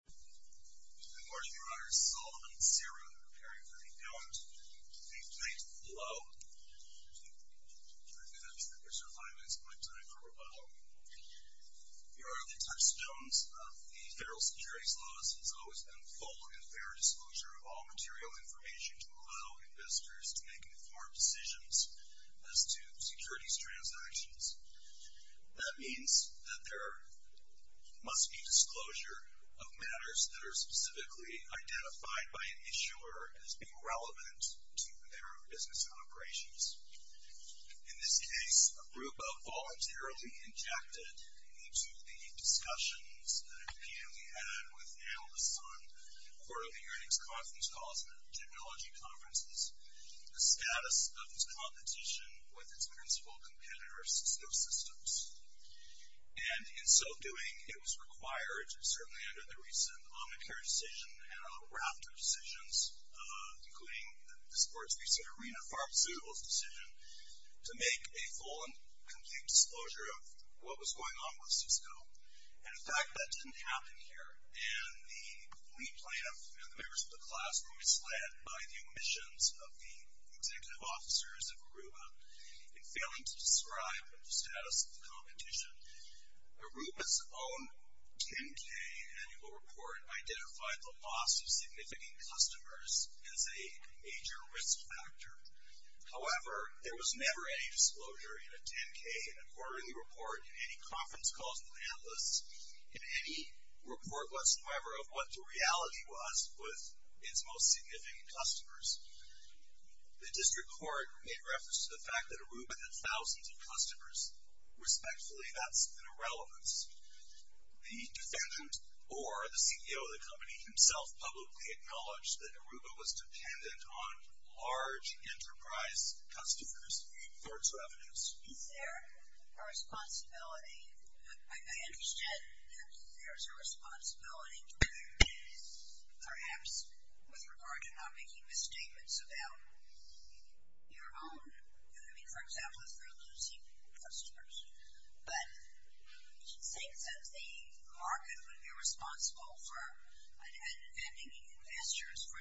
Good morning, Your Honors. Solomon and Sarah are preparing for the event. Thank you, ladies and gentlemen. Hello. I'm going to ask that you reserve five minutes of my time for rebuttal. Your Honor, the touchstones of the federal securities laws has always been full and fair disclosure of all material information to allow investors to make informed decisions as to securities transactions. That means that there must be disclosure of matters that are specifically identified by an issuer as being relevant to their business operations. In this case, Aruba voluntarily injected into the discussions that, again, we had with analysts on quarterly earnings conference calls and technology conferences the status of its competition with its principal competitor, Cisco Systems. And in so doing, it was required, certainly under the recent Omicare decision and other Rafter decisions, including the sports-based arena pharmaceuticals decision, to make a full and complete disclosure of what was going on with Cisco. And in fact, that didn't happen here. And the lead plaintiff and the members of the class were misled by the omissions of the executive officers of Aruba in failing to describe the status of the competition. Aruba's own 10-K annual report identified the loss of significant customers as a major risk factor. However, there was never any disclosure in a 10-K, in a quarterly report, in any conference calls with analysts, in any report whatsoever of what the reality was with its most significant customers. The district court made reference to the fact that Aruba had thousands of customers. Respectfully, that's an irrelevance. The defendant or the CEO of the company himself publicly acknowledged that Aruba was dependent on large enterprise customers for its revenues. Is there a responsibility? I understand that there's a responsibility, perhaps, with regard to not making misstatements about your own. I mean, for example, if you're losing customers. But in the same sense, the market would be responsible for defending investors for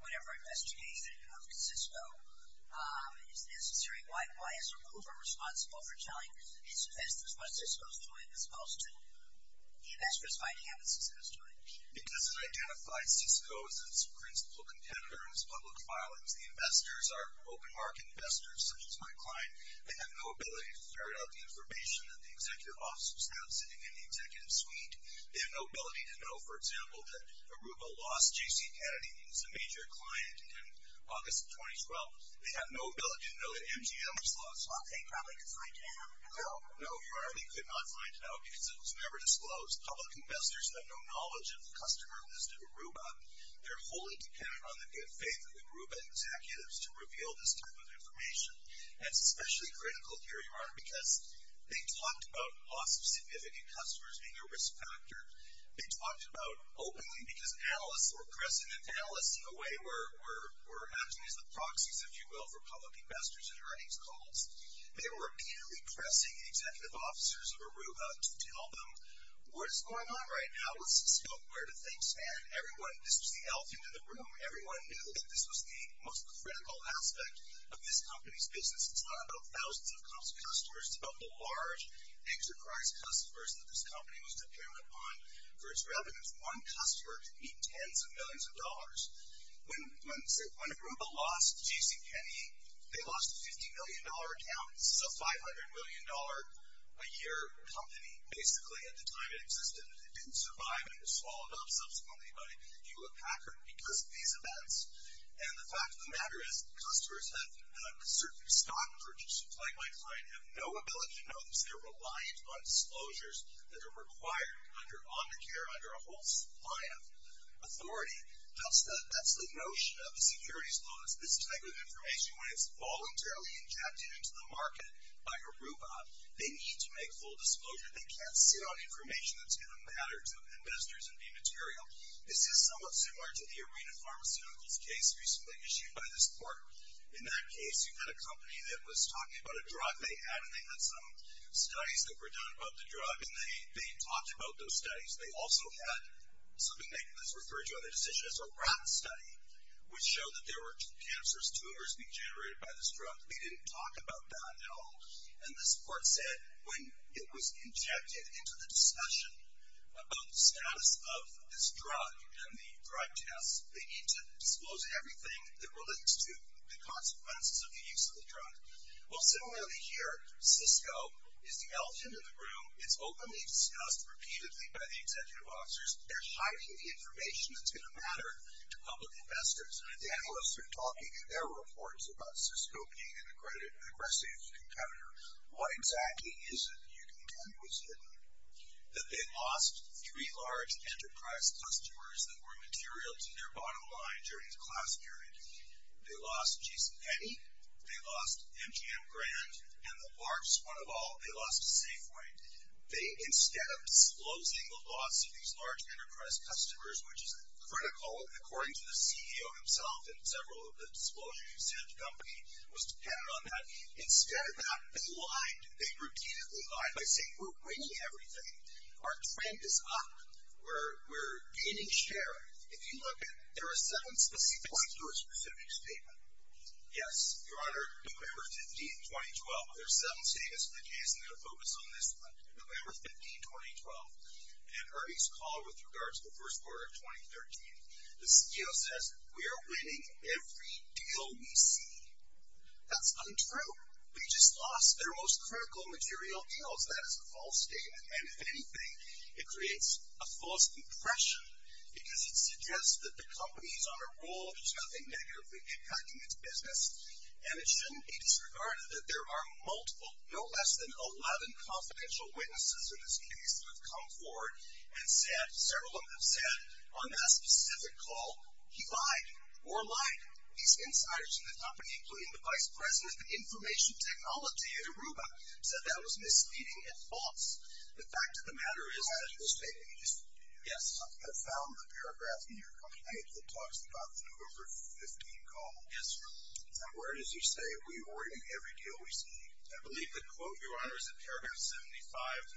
whatever investigation of Cisco is necessary. Why is Aruba responsible for telling its investors what Cisco's doing as opposed to the investors finding out what Cisco's doing? Because it identifies Cisco as its principal competitor in its public filings. The investors are open market investors, such as my client. They have no ability to ferret out the information that the executive officers have sitting in the executive suite. They have no ability to know, for example, that Aruba lost J.C. Kennedy, who was a major client in August of 2012. They have no ability to know that MGM was lost. Okay, probably because I can. No, no, you already could not find out because it was never disclosed. Public investors have no knowledge of the customer listed at Aruba. They're wholly dependent on the faith of the Aruba executives to reveal this type of information. And it's especially critical here, Your Honor, because they talked about loss of significant customers being a risk factor. They talked about, openly, because analysts were present. Analysts, in a way, were acting as the proxies, if you will, for public investors in earnings calls. They were purely pressing executive officers of Aruba to tell them, what is going on right now with Cisco? Where do things stand? Everyone, this was the elephant in the room. Everyone knew that this was the most critical aspect of this company's business. It's not about thousands of customers. It's about the large enterprise customers that this company was dependent upon for its revenues. One customer to meet tens of millions of dollars. When Aruba lost GCPenney, they lost a $50 million account. This is a $500 million a year company, basically, at the time it existed. It didn't survive. It was swallowed up subsequently by Hewlett-Packard because of these events. And the fact of the matter is, customers have, certainly stock purchasers like my client, have no ability to know this. They're reliant on disclosures that are required under Omnicare, under a whole supply of authority. That's the notion of a securities bonus. This type of information, when it's voluntarily injected into the market by Aruba, they need to make full disclosure. They can't sit on information that's in the matters of investors and B material. This is somewhat similar to the Arena Pharmaceuticals case recently issued by this court. In that case, you've got a company that was talking about a drug they had and they had some studies that were done about the drug. And they talked about those studies. They also had something that was referred to in their decision as a rat study, which showed that there were cancerous tumors being generated by this drug. They didn't talk about that at all. And this court said, when it was injected into the discussion about the status of this drug and the drug tests, they need to disclose everything that relates to the consequences of the use of the drug. Well, similarly here, Cisco is the elephant in the room. It's openly discussed repeatedly by the executive officers. They're hiding the information that's going to matter to public investors. And the analysts are talking in their reports about Cisco being an aggressive competitor. What exactly is it? You can tell me what's hidden. That they lost three large enterprise customers that were material to their bottom line during the class period. They lost Jason Petty. They lost MGM Grand. And the largest one of all, they lost Safeway. They, instead of disclosing the loss of these large enterprise customers, which is critical, according to the CEO himself and several of the disclosures he sent to the company, was dependent on that. Instead of that, they lied. They repeatedly lied by saying, we're winning everything. Our trend is up. We're gaining share. If you look at it, there are seven specific points to a specific statement. Yes, Your Honor, November 15, 2012. There are seven statements in the case, and I'm going to focus on this one. November 15, 2012. In Ernie's call with regards to the first quarter of 2013, the CEO says, we are winning every deal we see. That's untrue. We just lost our most critical material deals. That is a false statement. And if anything, it creates a false impression because it suggests that the company is on the verge of negatively impacting its business. And it shouldn't be disregarded that there are multiple, no less than 11 confidential witnesses in this case who have come forward and said, several of them have said, on that specific call, he lied or lied. These insiders in the company, including the vice president of information technology at Aruba, said that was misleading and false. The fact of the matter is that the statement is, yes, I found the paragraph in your complaint that talks about the November 15 call. Yes, sir. Now, where does he say, we are winning every deal we see? I believe the quote, Your Honor, is in paragraph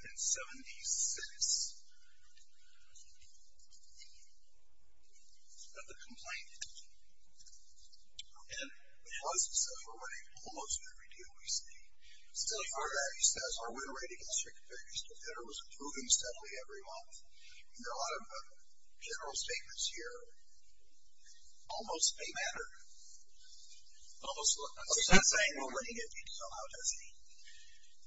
75 and 76 of the complaint. And he lies to himself. We're winning almost every deal we see. So far, he says, our win rate against your competitors to hitter was improving steadily every month. There are a lot of general statements here. Almost a matter. Almost what? What's that saying? We're winning every deal. How does he?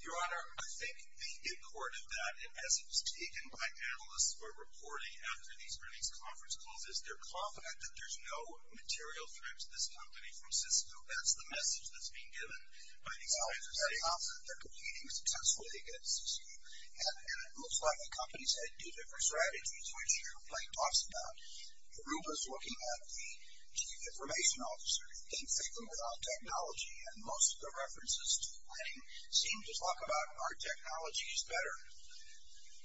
Your Honor, I think the import of that, as it was taken by analysts who are reporting after these earnings conference calls, is they're confident that there's no material threat to this company from Cisco. That's the message that's being given by these insiders. Well, they're confident they're competing successfully against Cisco. And it looks like the companies have two different strategies, which your complaint talks about. Aruba's looking at the chief information officer. He thinks they can win on technology. And most of the references to winning seem to talk about our technology is better.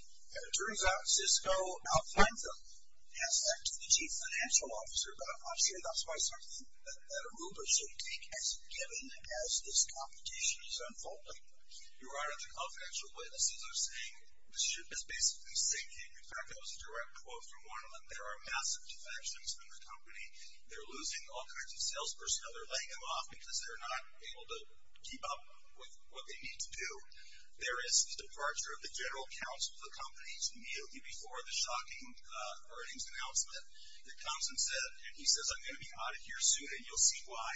And it turns out Cisco outflanked them and asked that to the chief financial officer. But I'm not sure that's quite something that Aruba should take as a given as this competition is unfolding. Your Honor, the confidential witnesses are saying the ship is basically sinking. In fact, that was a direct quote from one of them. There are massive defections in the company. They're losing all kinds of salespersons. Now they're laying them off because they're not able to keep up with what they need to do. There is the departure of the general counsel of the company immediately before the shocking earnings announcement that comes and he says, I'm going to be out of here soon and you'll see why.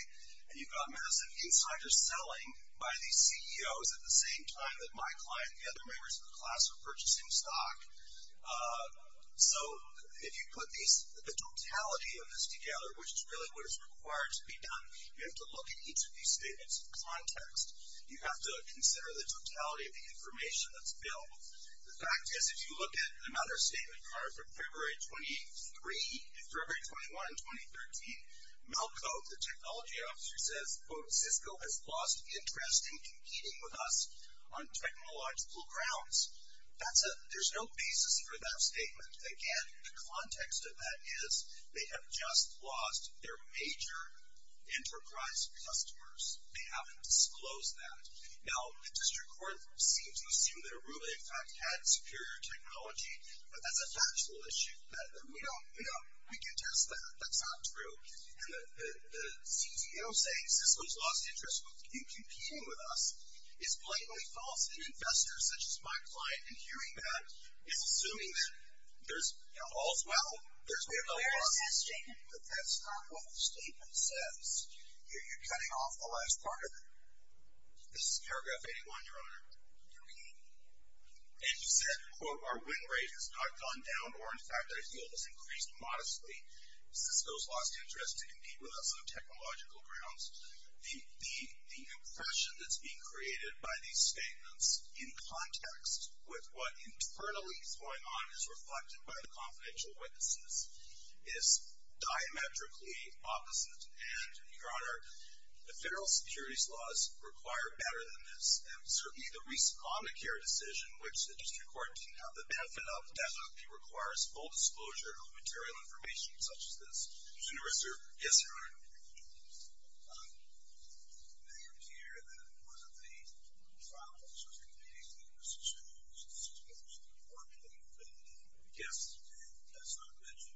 And you've got massive insider selling by these CEOs at the same time that my client and the other members of the class are purchasing stock. So if you put the totality of this together, which is really what is required to be done, you have to look at each of these statements in context. You have to consider the totality of the information that's built. The fact is if you look at another statement card from February 23, February 21, 2013, Melco, the technology officer, says, quote, Cisco has lost interest in competing with us on technological grounds. There's no basis for that statement. Again, the context of that is they have just lost their major enterprise customers. They haven't disclosed that. Now, the district court seems to assume that Arula, in fact, had superior technology, but that's a factual issue. We can test that. That's not true. And the CTO saying Cisco's lost interest in competing with us is blatantly false. And investors such as my client, in hearing that, is assuming that there's all's well, there's no problem. There is this statement, but that's not what the statement says. You're cutting off the last part of it. This is paragraph 81, Your Honor. Okay. And you said, quote, our win rate has not gone down or, in fact, our yield has increased modestly. Cisco's lost interest in competing with us on technological grounds. The impression that's being created by these statements in context with what internally is going on is reflected by the confidential witnesses is diametrically opposite. And, Your Honor, the federal securities laws require better than this. And certainly the recent Obamacare decision, which the district court didn't have the benefit of, actually requires full disclosure of material information such as this. So, Your Honor. Yes, Your Honor. It may appear that one of the problems with competing with Cisco is that Cisco is more competitive than we guessed. And that's not a mention.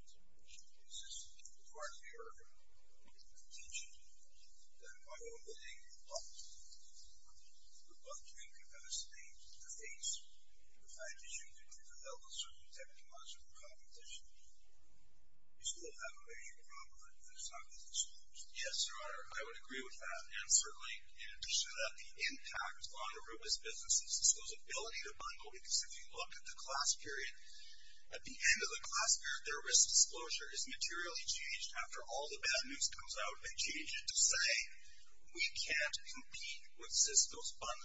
It's just a part of your intention that by opening the box, you're bumping capacity to face the fact that you can develop a certain technological competition. You still have a major problem that's not being disclosed. Yes, Your Honor. I would agree with that. And certainly, in addition to that, the impact on Aruba's business is Cisco's ability to bundle. Because if you look at the class period, at the end of the class period, their risk disclosure is materially changed. After all the bad news comes out, they change it to say, we can't compete with Cisco's risk disclosure.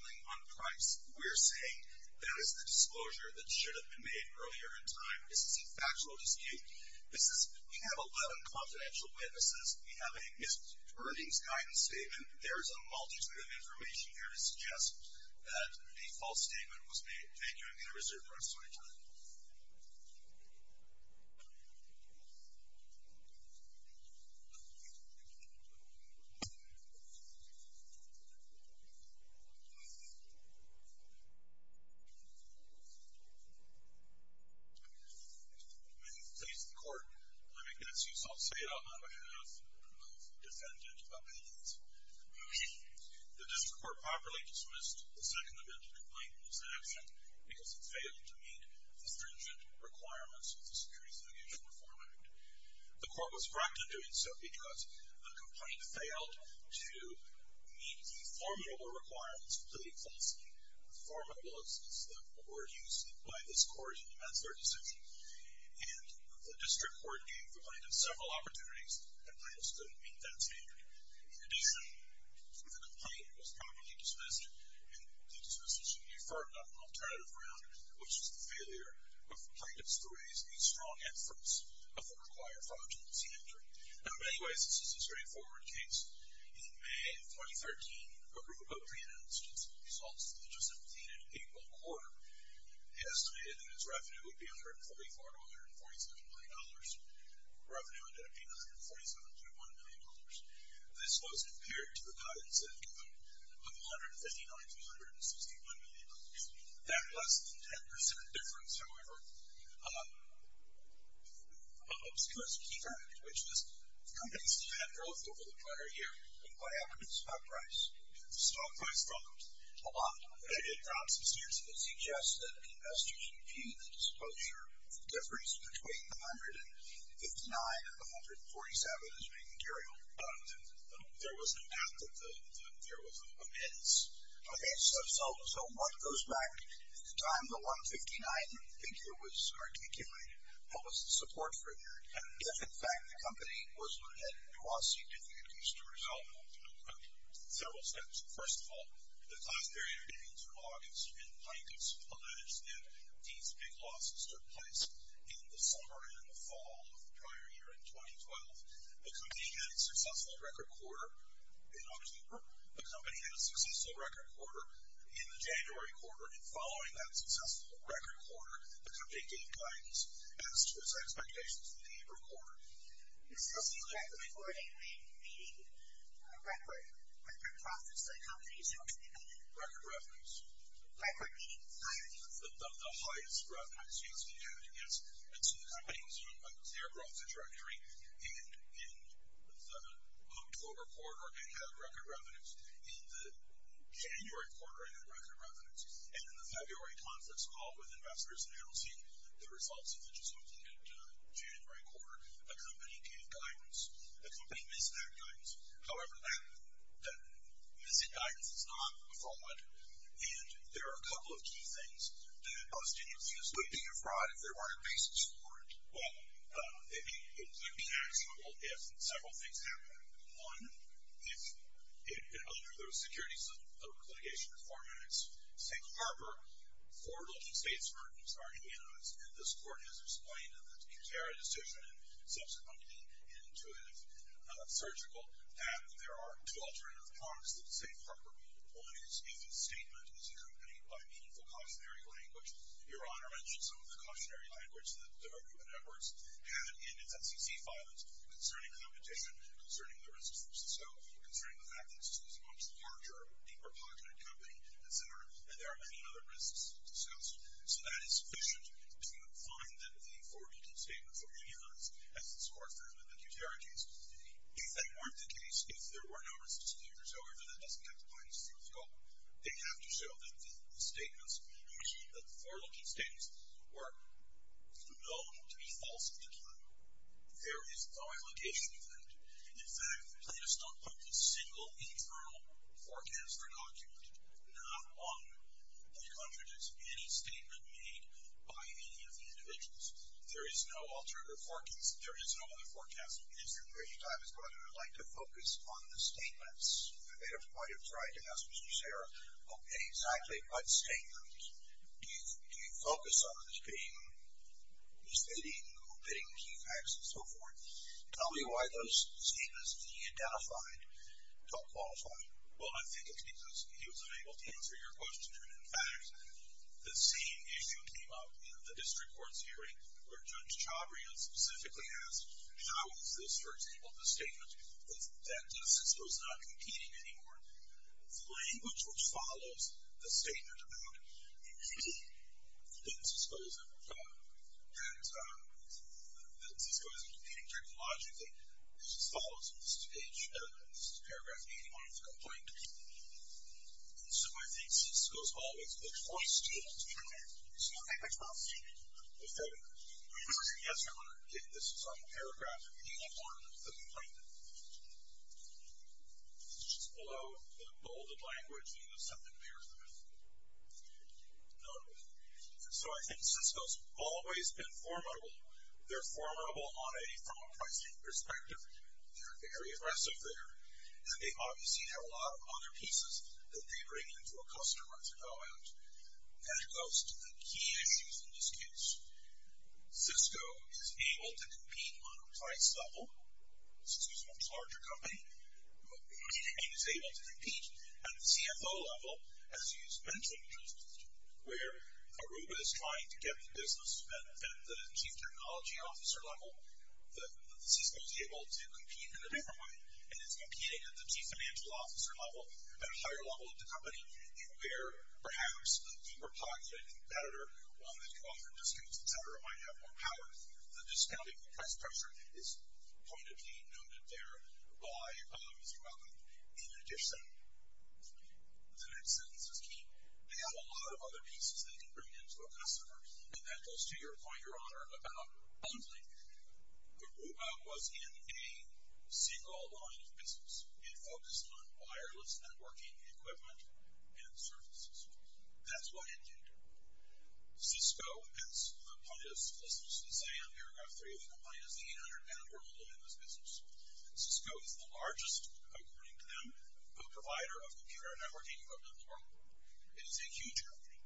They're saying that is the disclosure that should have been made earlier in time. This is a factual dispute. This is, we have 11 confidential witnesses. We have a missed earnings guidance statement. There is a multitude of information here to suggest that a false statement was made. Thank you. I'm going to reserve the rest of my time. When you please the court, let me guess you. So I'll say it on behalf of defendant appeals. The district court properly dismissed the second amendment complaint in this action because it failed to meet the stringent requirements of the Securities and Exchange Reform Act. The court was correct in doing so because the complaint failed to meet the formula requirements to plead falsely. The formula was the word used by this court in the manslaughter decision. And the district court gave the plaintiff several opportunities. The plaintiff's couldn't meet that standard. In addition, the complaint was properly dismissed, and the dismissal should be referred on an alternative ground, which is the failure of plaintiffs to raise a strong inference of the required fraudulency entry. In many ways, this is a straightforward case. In May of 2013, a group of plaintiffs results that they just obtained in April quarter estimated that its revenue would be $144 to $147 million. Revenue ended up being $147 to $1 million. This was compared to the guidance they'd given of $159 to $161 million. That less than 10% difference, however, obscures a key fact, which is the company still had growth over the prior year. And what happened to the stock price? The stock price dropped a lot. It dropped substantially. It suggests that investors reviewed the disclosure of the difference between the $159 and the $147 as being material. There was no doubt that there was an amends. Okay, so what goes back to the time the $159 figure was articulated? What was the support for it? Yes, in fact, the company was looking at a nuancy that they had used to resolve several steps. First of all, the class period of April through August, and plaintiffs alleged that these big losses took place in the summer and in the fall of the prior year in 2012. The company had a successful record quarter in October. The company had a successful record quarter in the January quarter. And following that successful record quarter, the company gave guidance as to its expectations for the April quarter. The company recorded a meeting record, record profits to the company, so to speak. Record revenues. Record meetings. The highest revenues. The highest revenues the company had against its earnings from their growth trajectory in the October quarter, it had record revenues. In the January quarter, it had record revenues. And in the February conference call with investors announcing the results of the just-completed January quarter, the company gave guidance. The company missed that guidance. However, that missing guidance is not a fraud, and there are a couple of key things that hostages use. Would it be a fraud if there weren't a basis for it? Well, it would be actionable if several things happened. One, if under those securities of litigation reform and its safe harbor, forward-looking state's burdens are immunized, and this court has explained in the Qatari decision and subsequently in Intuitive Surgical that there are two alternative paths that the safe harbor would be deployed. One is if a statement is accompanied by meaningful cautionary language. Your Honor mentioned some of the cautionary language that the Department of Human Efforts had in its SEC filings concerning competition and concerning the risks. So concerning the fact that this was a much larger, deeper-pocketed company, et cetera, and there are many other risks discussed. So that is sufficient to find that the forward-looking statements are immunized, as this court found in the Qatari case. If that weren't the case, if there were no risks to the inter-server, then it doesn't have to find a safe harbor. They have to show that the statements, or the forward-looking statements, were known to be false at the time. There is no allegation of that. In fact, they just don't put a single internal forecast or conclusion. Not one that contradicts any statement made by any of the individuals. There is no alternative forecast. There is no other forecast. At this point in time, I would like to focus on the statements. I might have tried to ask Mr. Shara, okay, exactly what statements do you focus on in this case? Is there any bidding key facts and so forth? Tell me why those statements he identified don't qualify. Well, I think it's because he was unable to answer your question. In fact, the same issue came up in the district court's hearing where Judge Chabria specifically asked, how is this, for example, the statement that Cisco is not competing anymore? The language which follows the statement about Cisco is that Cisco isn't competing during the logic thing. It just follows it. This is paragraph 81 of the complaint. So I think Cisco is always the choice statement. You see what I mean? The choice statement. Yes, sir. This is on the paragraph 81 of the complaint. It's just below the bolded language, and there's something there. Notable. So I think Cisco's always been formidable. They're formidable from a pricing perspective. They're very aggressive there, and they obviously have a lot of other pieces that they bring into a customer to go at. That goes to the key issues in this case. Cisco is able to compete on a price level. Cisco's a much larger company. It is able to compete at the CFO level, as you mentioned, where Aruba is trying to get the business at the chief technology officer level. Cisco's able to compete in a different way, and it's competing at the chief financial officer level, at a higher level of the company, where perhaps a super-popular competitor, one that you offer discounts, et cetera, might have more power. The discounting of the price pressure is pointedly noted there by Mr. Melvin, in addition. The next sentence is key. They have a lot of other pieces they can bring into a customer, and that goes to your point, Your Honor, about bundling. Aruba was in a single-line business. It focused on wireless networking equipment and services. That's what it did. Cisco, as the plaintiff listens to say on paragraph 3 of the complaint, is the 800-member bundler in this business. Cisco is the largest, according to them, co-provider of computer networking equipment in the world. It is a huge company.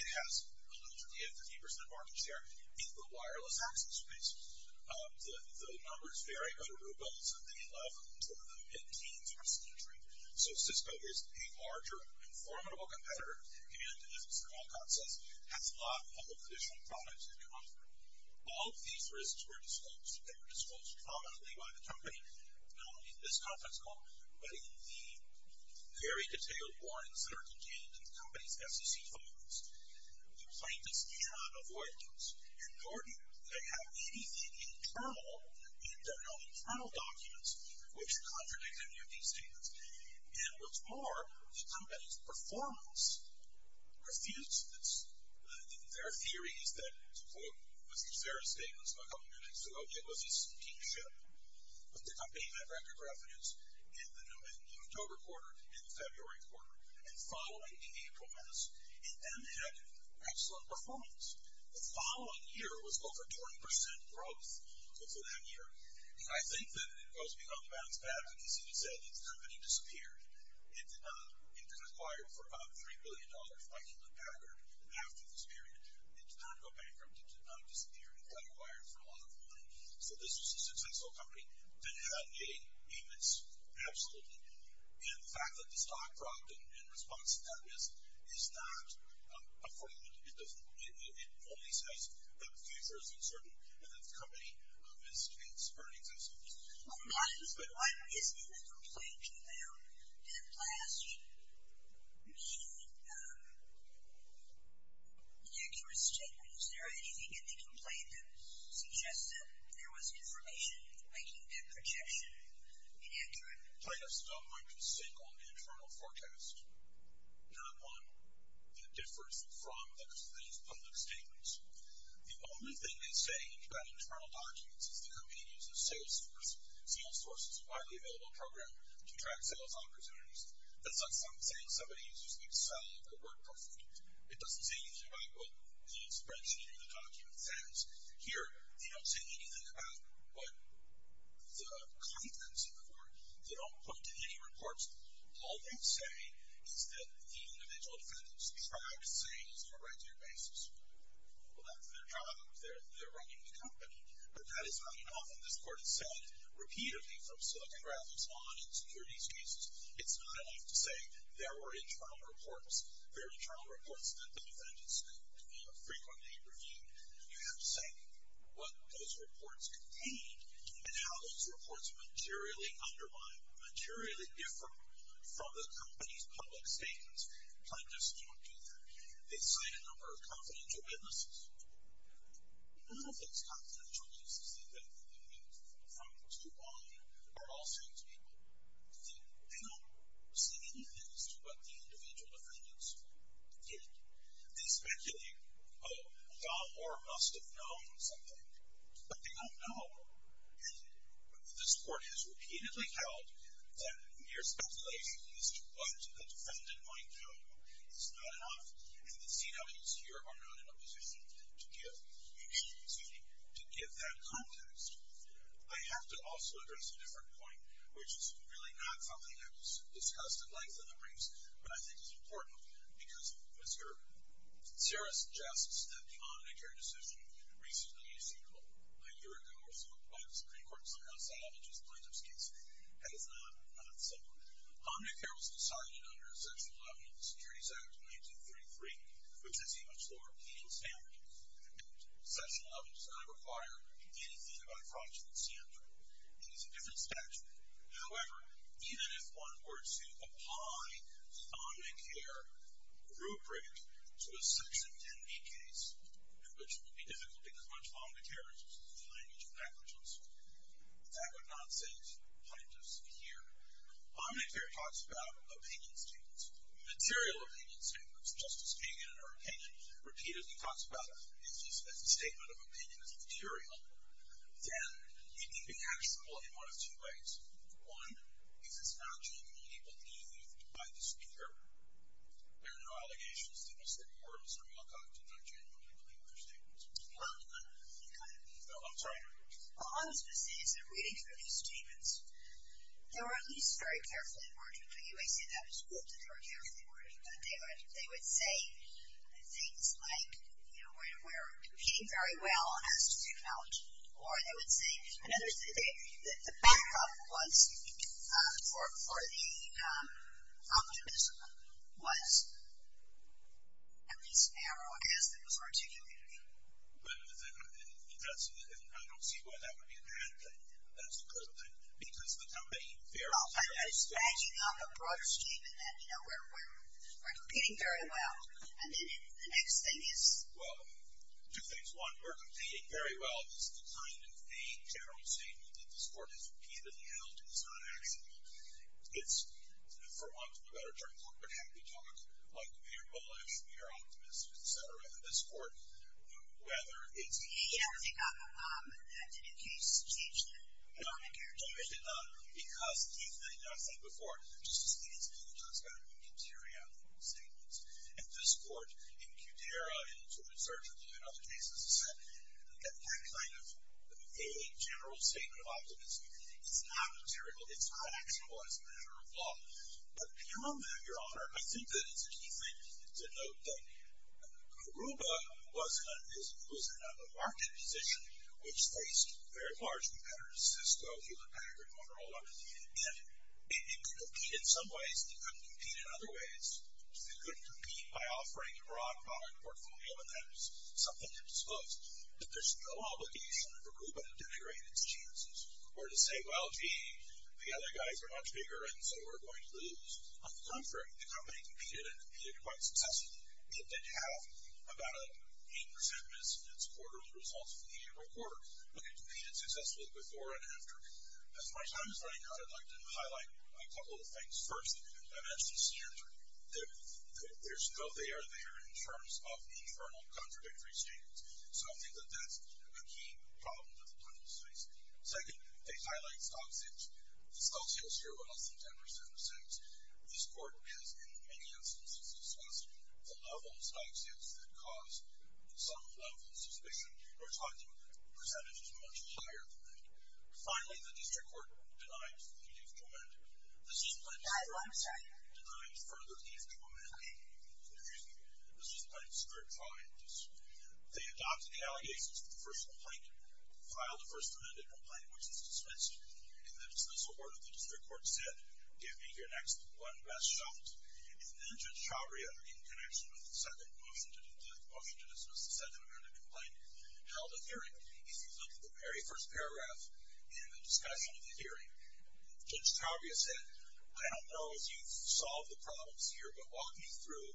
It has a little bit of 50% of market share in the wireless access space. The numbers vary, but Aruba is at the 11th or the 15th in this country. So Cisco is a larger and formidable competitor, and, as Mr. Malkoff says, has a lot of the traditional products that they offer. All of these risks were disclosed. They were disclosed prominently by the company, not only in this conference call, but in the very detailed warrants that are contained in the company's SEC files. The plaintiffs cannot avoid those, and nor do they have anything internal in their own internal documents which contradict any of these statements. And what's more, the company's performance refused this. Their theory is that, to quote Mr. Serra's statements a couple of minutes ago, it was a steep shift. The company had record revenues in the October quarter and the February quarter, and following in the April months, and then they had excellent performance. The following year was over 20% growth for that year. And I think that it goes beyond the bounds of that. As you said, the company disappeared. It was acquired for about $3 billion by Hewlett Packard after this period. It did not go bankrupt. It did not disappear. It got acquired for a lot of money. So this was a successful company that had made payments, absolutely. And the fact that the stock dropped in response to that risk is not a fraud. It only says that the future is uncertain and that the company missed its earnings and so forth. Why isn't the complaint about that last meeting an accurate statement? Is there anything in the complaint that suggests that there was information making that projection inaccurate? Plaintiffs don't want to sink on the internal forecast. They don't want the difference from the company's public statements. The only thing they say about internal documents is the company uses a sales force. Sales force is a widely available program to track sales opportunities. That's not saying somebody is using Excel or WordPress. It doesn't say anything about what the expression in the document says. Here, they don't say anything about what the contents of the report. They don't put it in any reports. All they say is that the individual defendant's privacy is on a regular basis. Well, that's their job. They're running the company. But that is not enough. And this court has said repeatedly from Silicon Graphics on in securities cases, it's not enough to say there were internal reports. There are internal reports that the defendants frequently review. You have to say what those reports contained and how those reports materially undermine, materially differ from the company's public statements. Plaintiffs don't do that. They cite a number of confidential witnesses. A lot of those confidential witnesses, they've been from too long ago, are all same-speaking. They don't say anything as to what the individual defendants did. They speculate, oh, Don Moore must have known something. But they don't know. And this court has repeatedly held that mere speculation as to what the defendant might do is not enough. And the CWs here are not in a position to give that context. I have to also address a different point, which is really not something that was discussed at length in the briefs, but I think is important because it was here. Sarah suggests that the Omnicare decision recently, a year ago or so, by the Supreme Court somehow salvaged this plaintiff's case. That is not simple. Omnicare was decided under Section 11 of the Securities Act of 1933, which is a much more obedient standard. Section 11 does not require anything of a fraudulent standard. It is a different statute. However, even if one were to apply Omnicare group rate to a Section 10B case, which would be difficult because much of Omnicare is used in the language of negligence, that would not save plaintiffs a year. Omnicare talks about opinion statements, material opinion statements, just as Kagan in her opinion repeatedly talks about it as a statement of opinion as material. Then it can be actionable in one of two ways. One is it's not genuinely believed by the speaker. There are no allegations to the Supreme Court or Mr. Malkoff did not genuinely believe their statements. I'm sorry. Well, one of the specifics of reading through these statements, they were at least very carefully worded, but you may say that was good that they were carefully worded. They would say things like, you know, we're competing very well on how to do technology, or they would say, the back up was for the optimism was at least narrow as there was articulating. I don't see why that would be a bad thing. That's a good thing, because the campaign... I was dragging up a broader statement that, you know, we're competing very well. And then the next thing is... Well, two things. One, we're competing very well. This is the kind of vague general statement that this Court has repeatedly held is not actionable. It's, for want of a better term, corporate happy talk, like we are bullish, we are optimists, et cetera. And this Court, whether it's... You don't think that did, in case, change the norm and character? No, it did not. Because, Keith, and I've said before, Justice Leavitt's view is that it's got to be a material statement. And this Court, in Qdera, in its research, and in other cases, has said that that kind of vague general statement of optimism is not material, it's not actionable as a matter of law. But beyond that, Your Honor, I think that it's a key thing to note that Aruba was in a market position which faced very large competitors, Cisco, Hewlett-Packard, Motorola, and it could compete in some ways, but it couldn't compete in other ways. It couldn't compete by offering a broad product portfolio, and that was something that was closed. But there's no obligation for Aruba to denigrate its chances or to say, well, gee, the other guys are much bigger, and so we're going to lose. On the contrary, the company competed, and it competed quite successfully. It did have about an 8% miss in its quarterly results from the annual quarter, but it competed successfully before and after. As my time is running out, I'd like to highlight a couple of things. First, I mentioned standard. There's no there, there, in terms of internal contradictory standards. So I think that that's a key problem that the court is facing. Second, they highlight stock sales. The stock sales here were less than 10% or so. This court has, in many instances, discussed the level of stock sales that cause some level of suspicion. We're talking percentages much higher than that. Finally, the district court denies the need to amend. This is the plaintiff's... I'm sorry. ...denies further need to amend. Excuse me. This is the plaintiff's third trial. They adopted the allegations of the first complaint, filed the first amended complaint, which is dismissed. In the dismissal order, the district court said, Give me your next one best shot. And then Judge Chavria, in connection with the second motion to dismiss, the second amended complaint, held a hearing. If you look at the very first paragraph in the discussion of the hearing, Judge Chavria said, I don't know if you've solved the problems here, but walk me through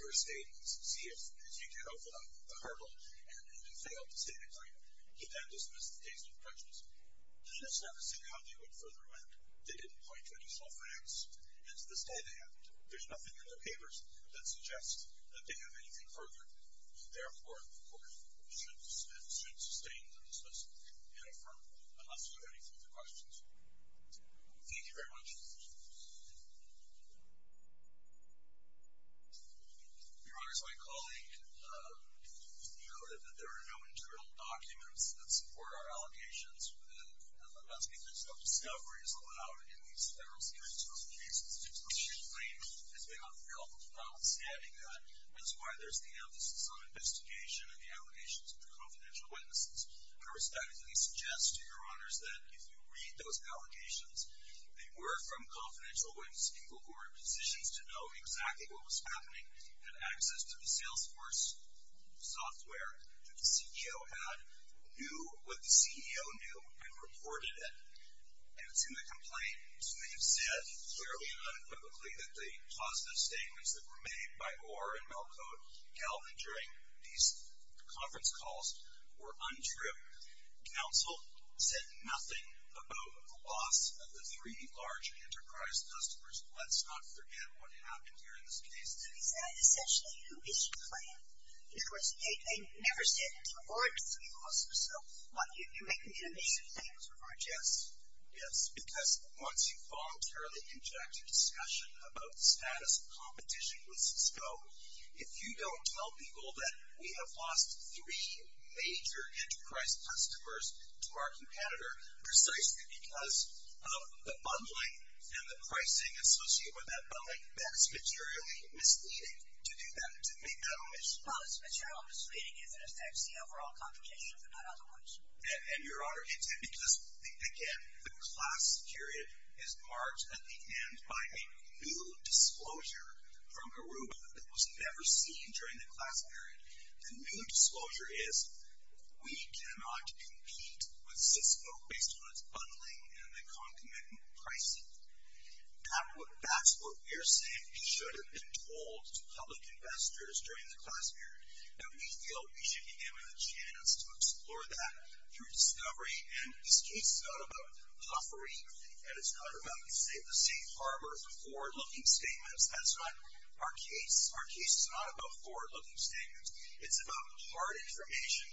your statements. See if you can open up the hurdle. And they failed to state a claim. He then dismissed the case with prejudice. He does not see how they would further amend. They didn't point to additional frags. And to this day, they haven't. There's nothing in the papers that suggests that they have anything further. Therefore, the court should sustain the dismissal and affirm it, unless you have any further questions. Thank you very much. Your Honor, as my colleague noted, that there are no internal documents that support our allegations. And that's because no discovery is allowed in these federal securities court cases. The claim has been unveiled without the standing guide. That's why there's the emphasis on investigation and the allegations of the confidential witnesses. I would statically suggest to Your Honors that if you read those allegations, they were from confidential witnesses, people who are in positions to know exactly what was happening, had access to the Salesforce software that the CEO had, knew what the CEO knew, and reported it. And it's in the complaint. So they have said, clearly and unquickly, that the positive statements that were made by Orr and Malcote-Galvin during these conference calls were untrue. Counsel said nothing about the loss of the three large enterprise customers. Let's not forget what happened here in this case. Who is that, essentially? Who is your client? Of course, they never said it to Orr. It doesn't even cost them. So you're making it a major thing. Yes. Yes, because once you voluntarily inject a discussion about the status of competition with Cisco, if you don't tell people that we have lost three major enterprise customers to our competitor precisely because of the bundling and the pricing associated with that bundling, then it's materially misleading to do that, to make that omission. Well, it's materially misleading if it affects the overall competition, if not otherwise. And, Your Honor, it did because, again, the class period is marked at the end by a new disclosure from Aruba that was never seen during the class period. The new disclosure is, we cannot compete with Cisco based on its bundling and the concomitant pricing. That's what we're saying should have been told to public investors during the class period. And we feel we should be given a chance to explore that through discovery. And this case is not about puffery. And it's not about, say, the safe harbor forward-looking statements. That's not our case. Our case is not about forward-looking statements. It's about hard information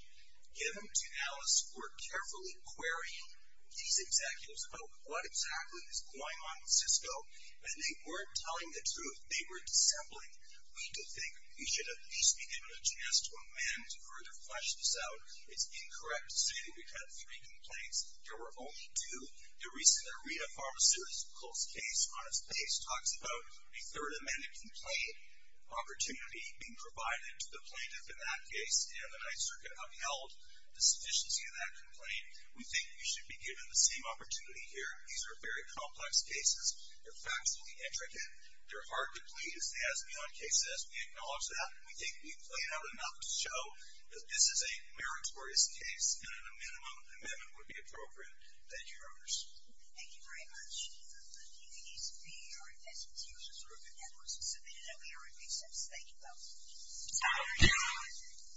given to analysts who are carefully querying these executives about what exactly is going on with Cisco. And they weren't telling the truth. They were dissembling. We do think we should at least be given a chance to amend, to further flesh this out. It's incorrect to say that we've had three complaints. There were only two. The recent Aretha Pharmaceuticals case, on its base, talks about a Third Amendment complaint opportunity being provided to the plaintiff in that case. And the Ninth Circuit upheld the sufficiency of that complaint. We think we should be given the same opportunity here. These are very complex cases. They're factually intricate. They're hard to please. As the on-case says, we acknowledge that. We think we've played out enough to show that this is a meritorious case and an amendment would be appropriate. Thank you, Your Honors. Thank you very much. I think it needs to be our investigators or the analysts who submitted it. I'm sure it makes sense. Thank you both. Thank you.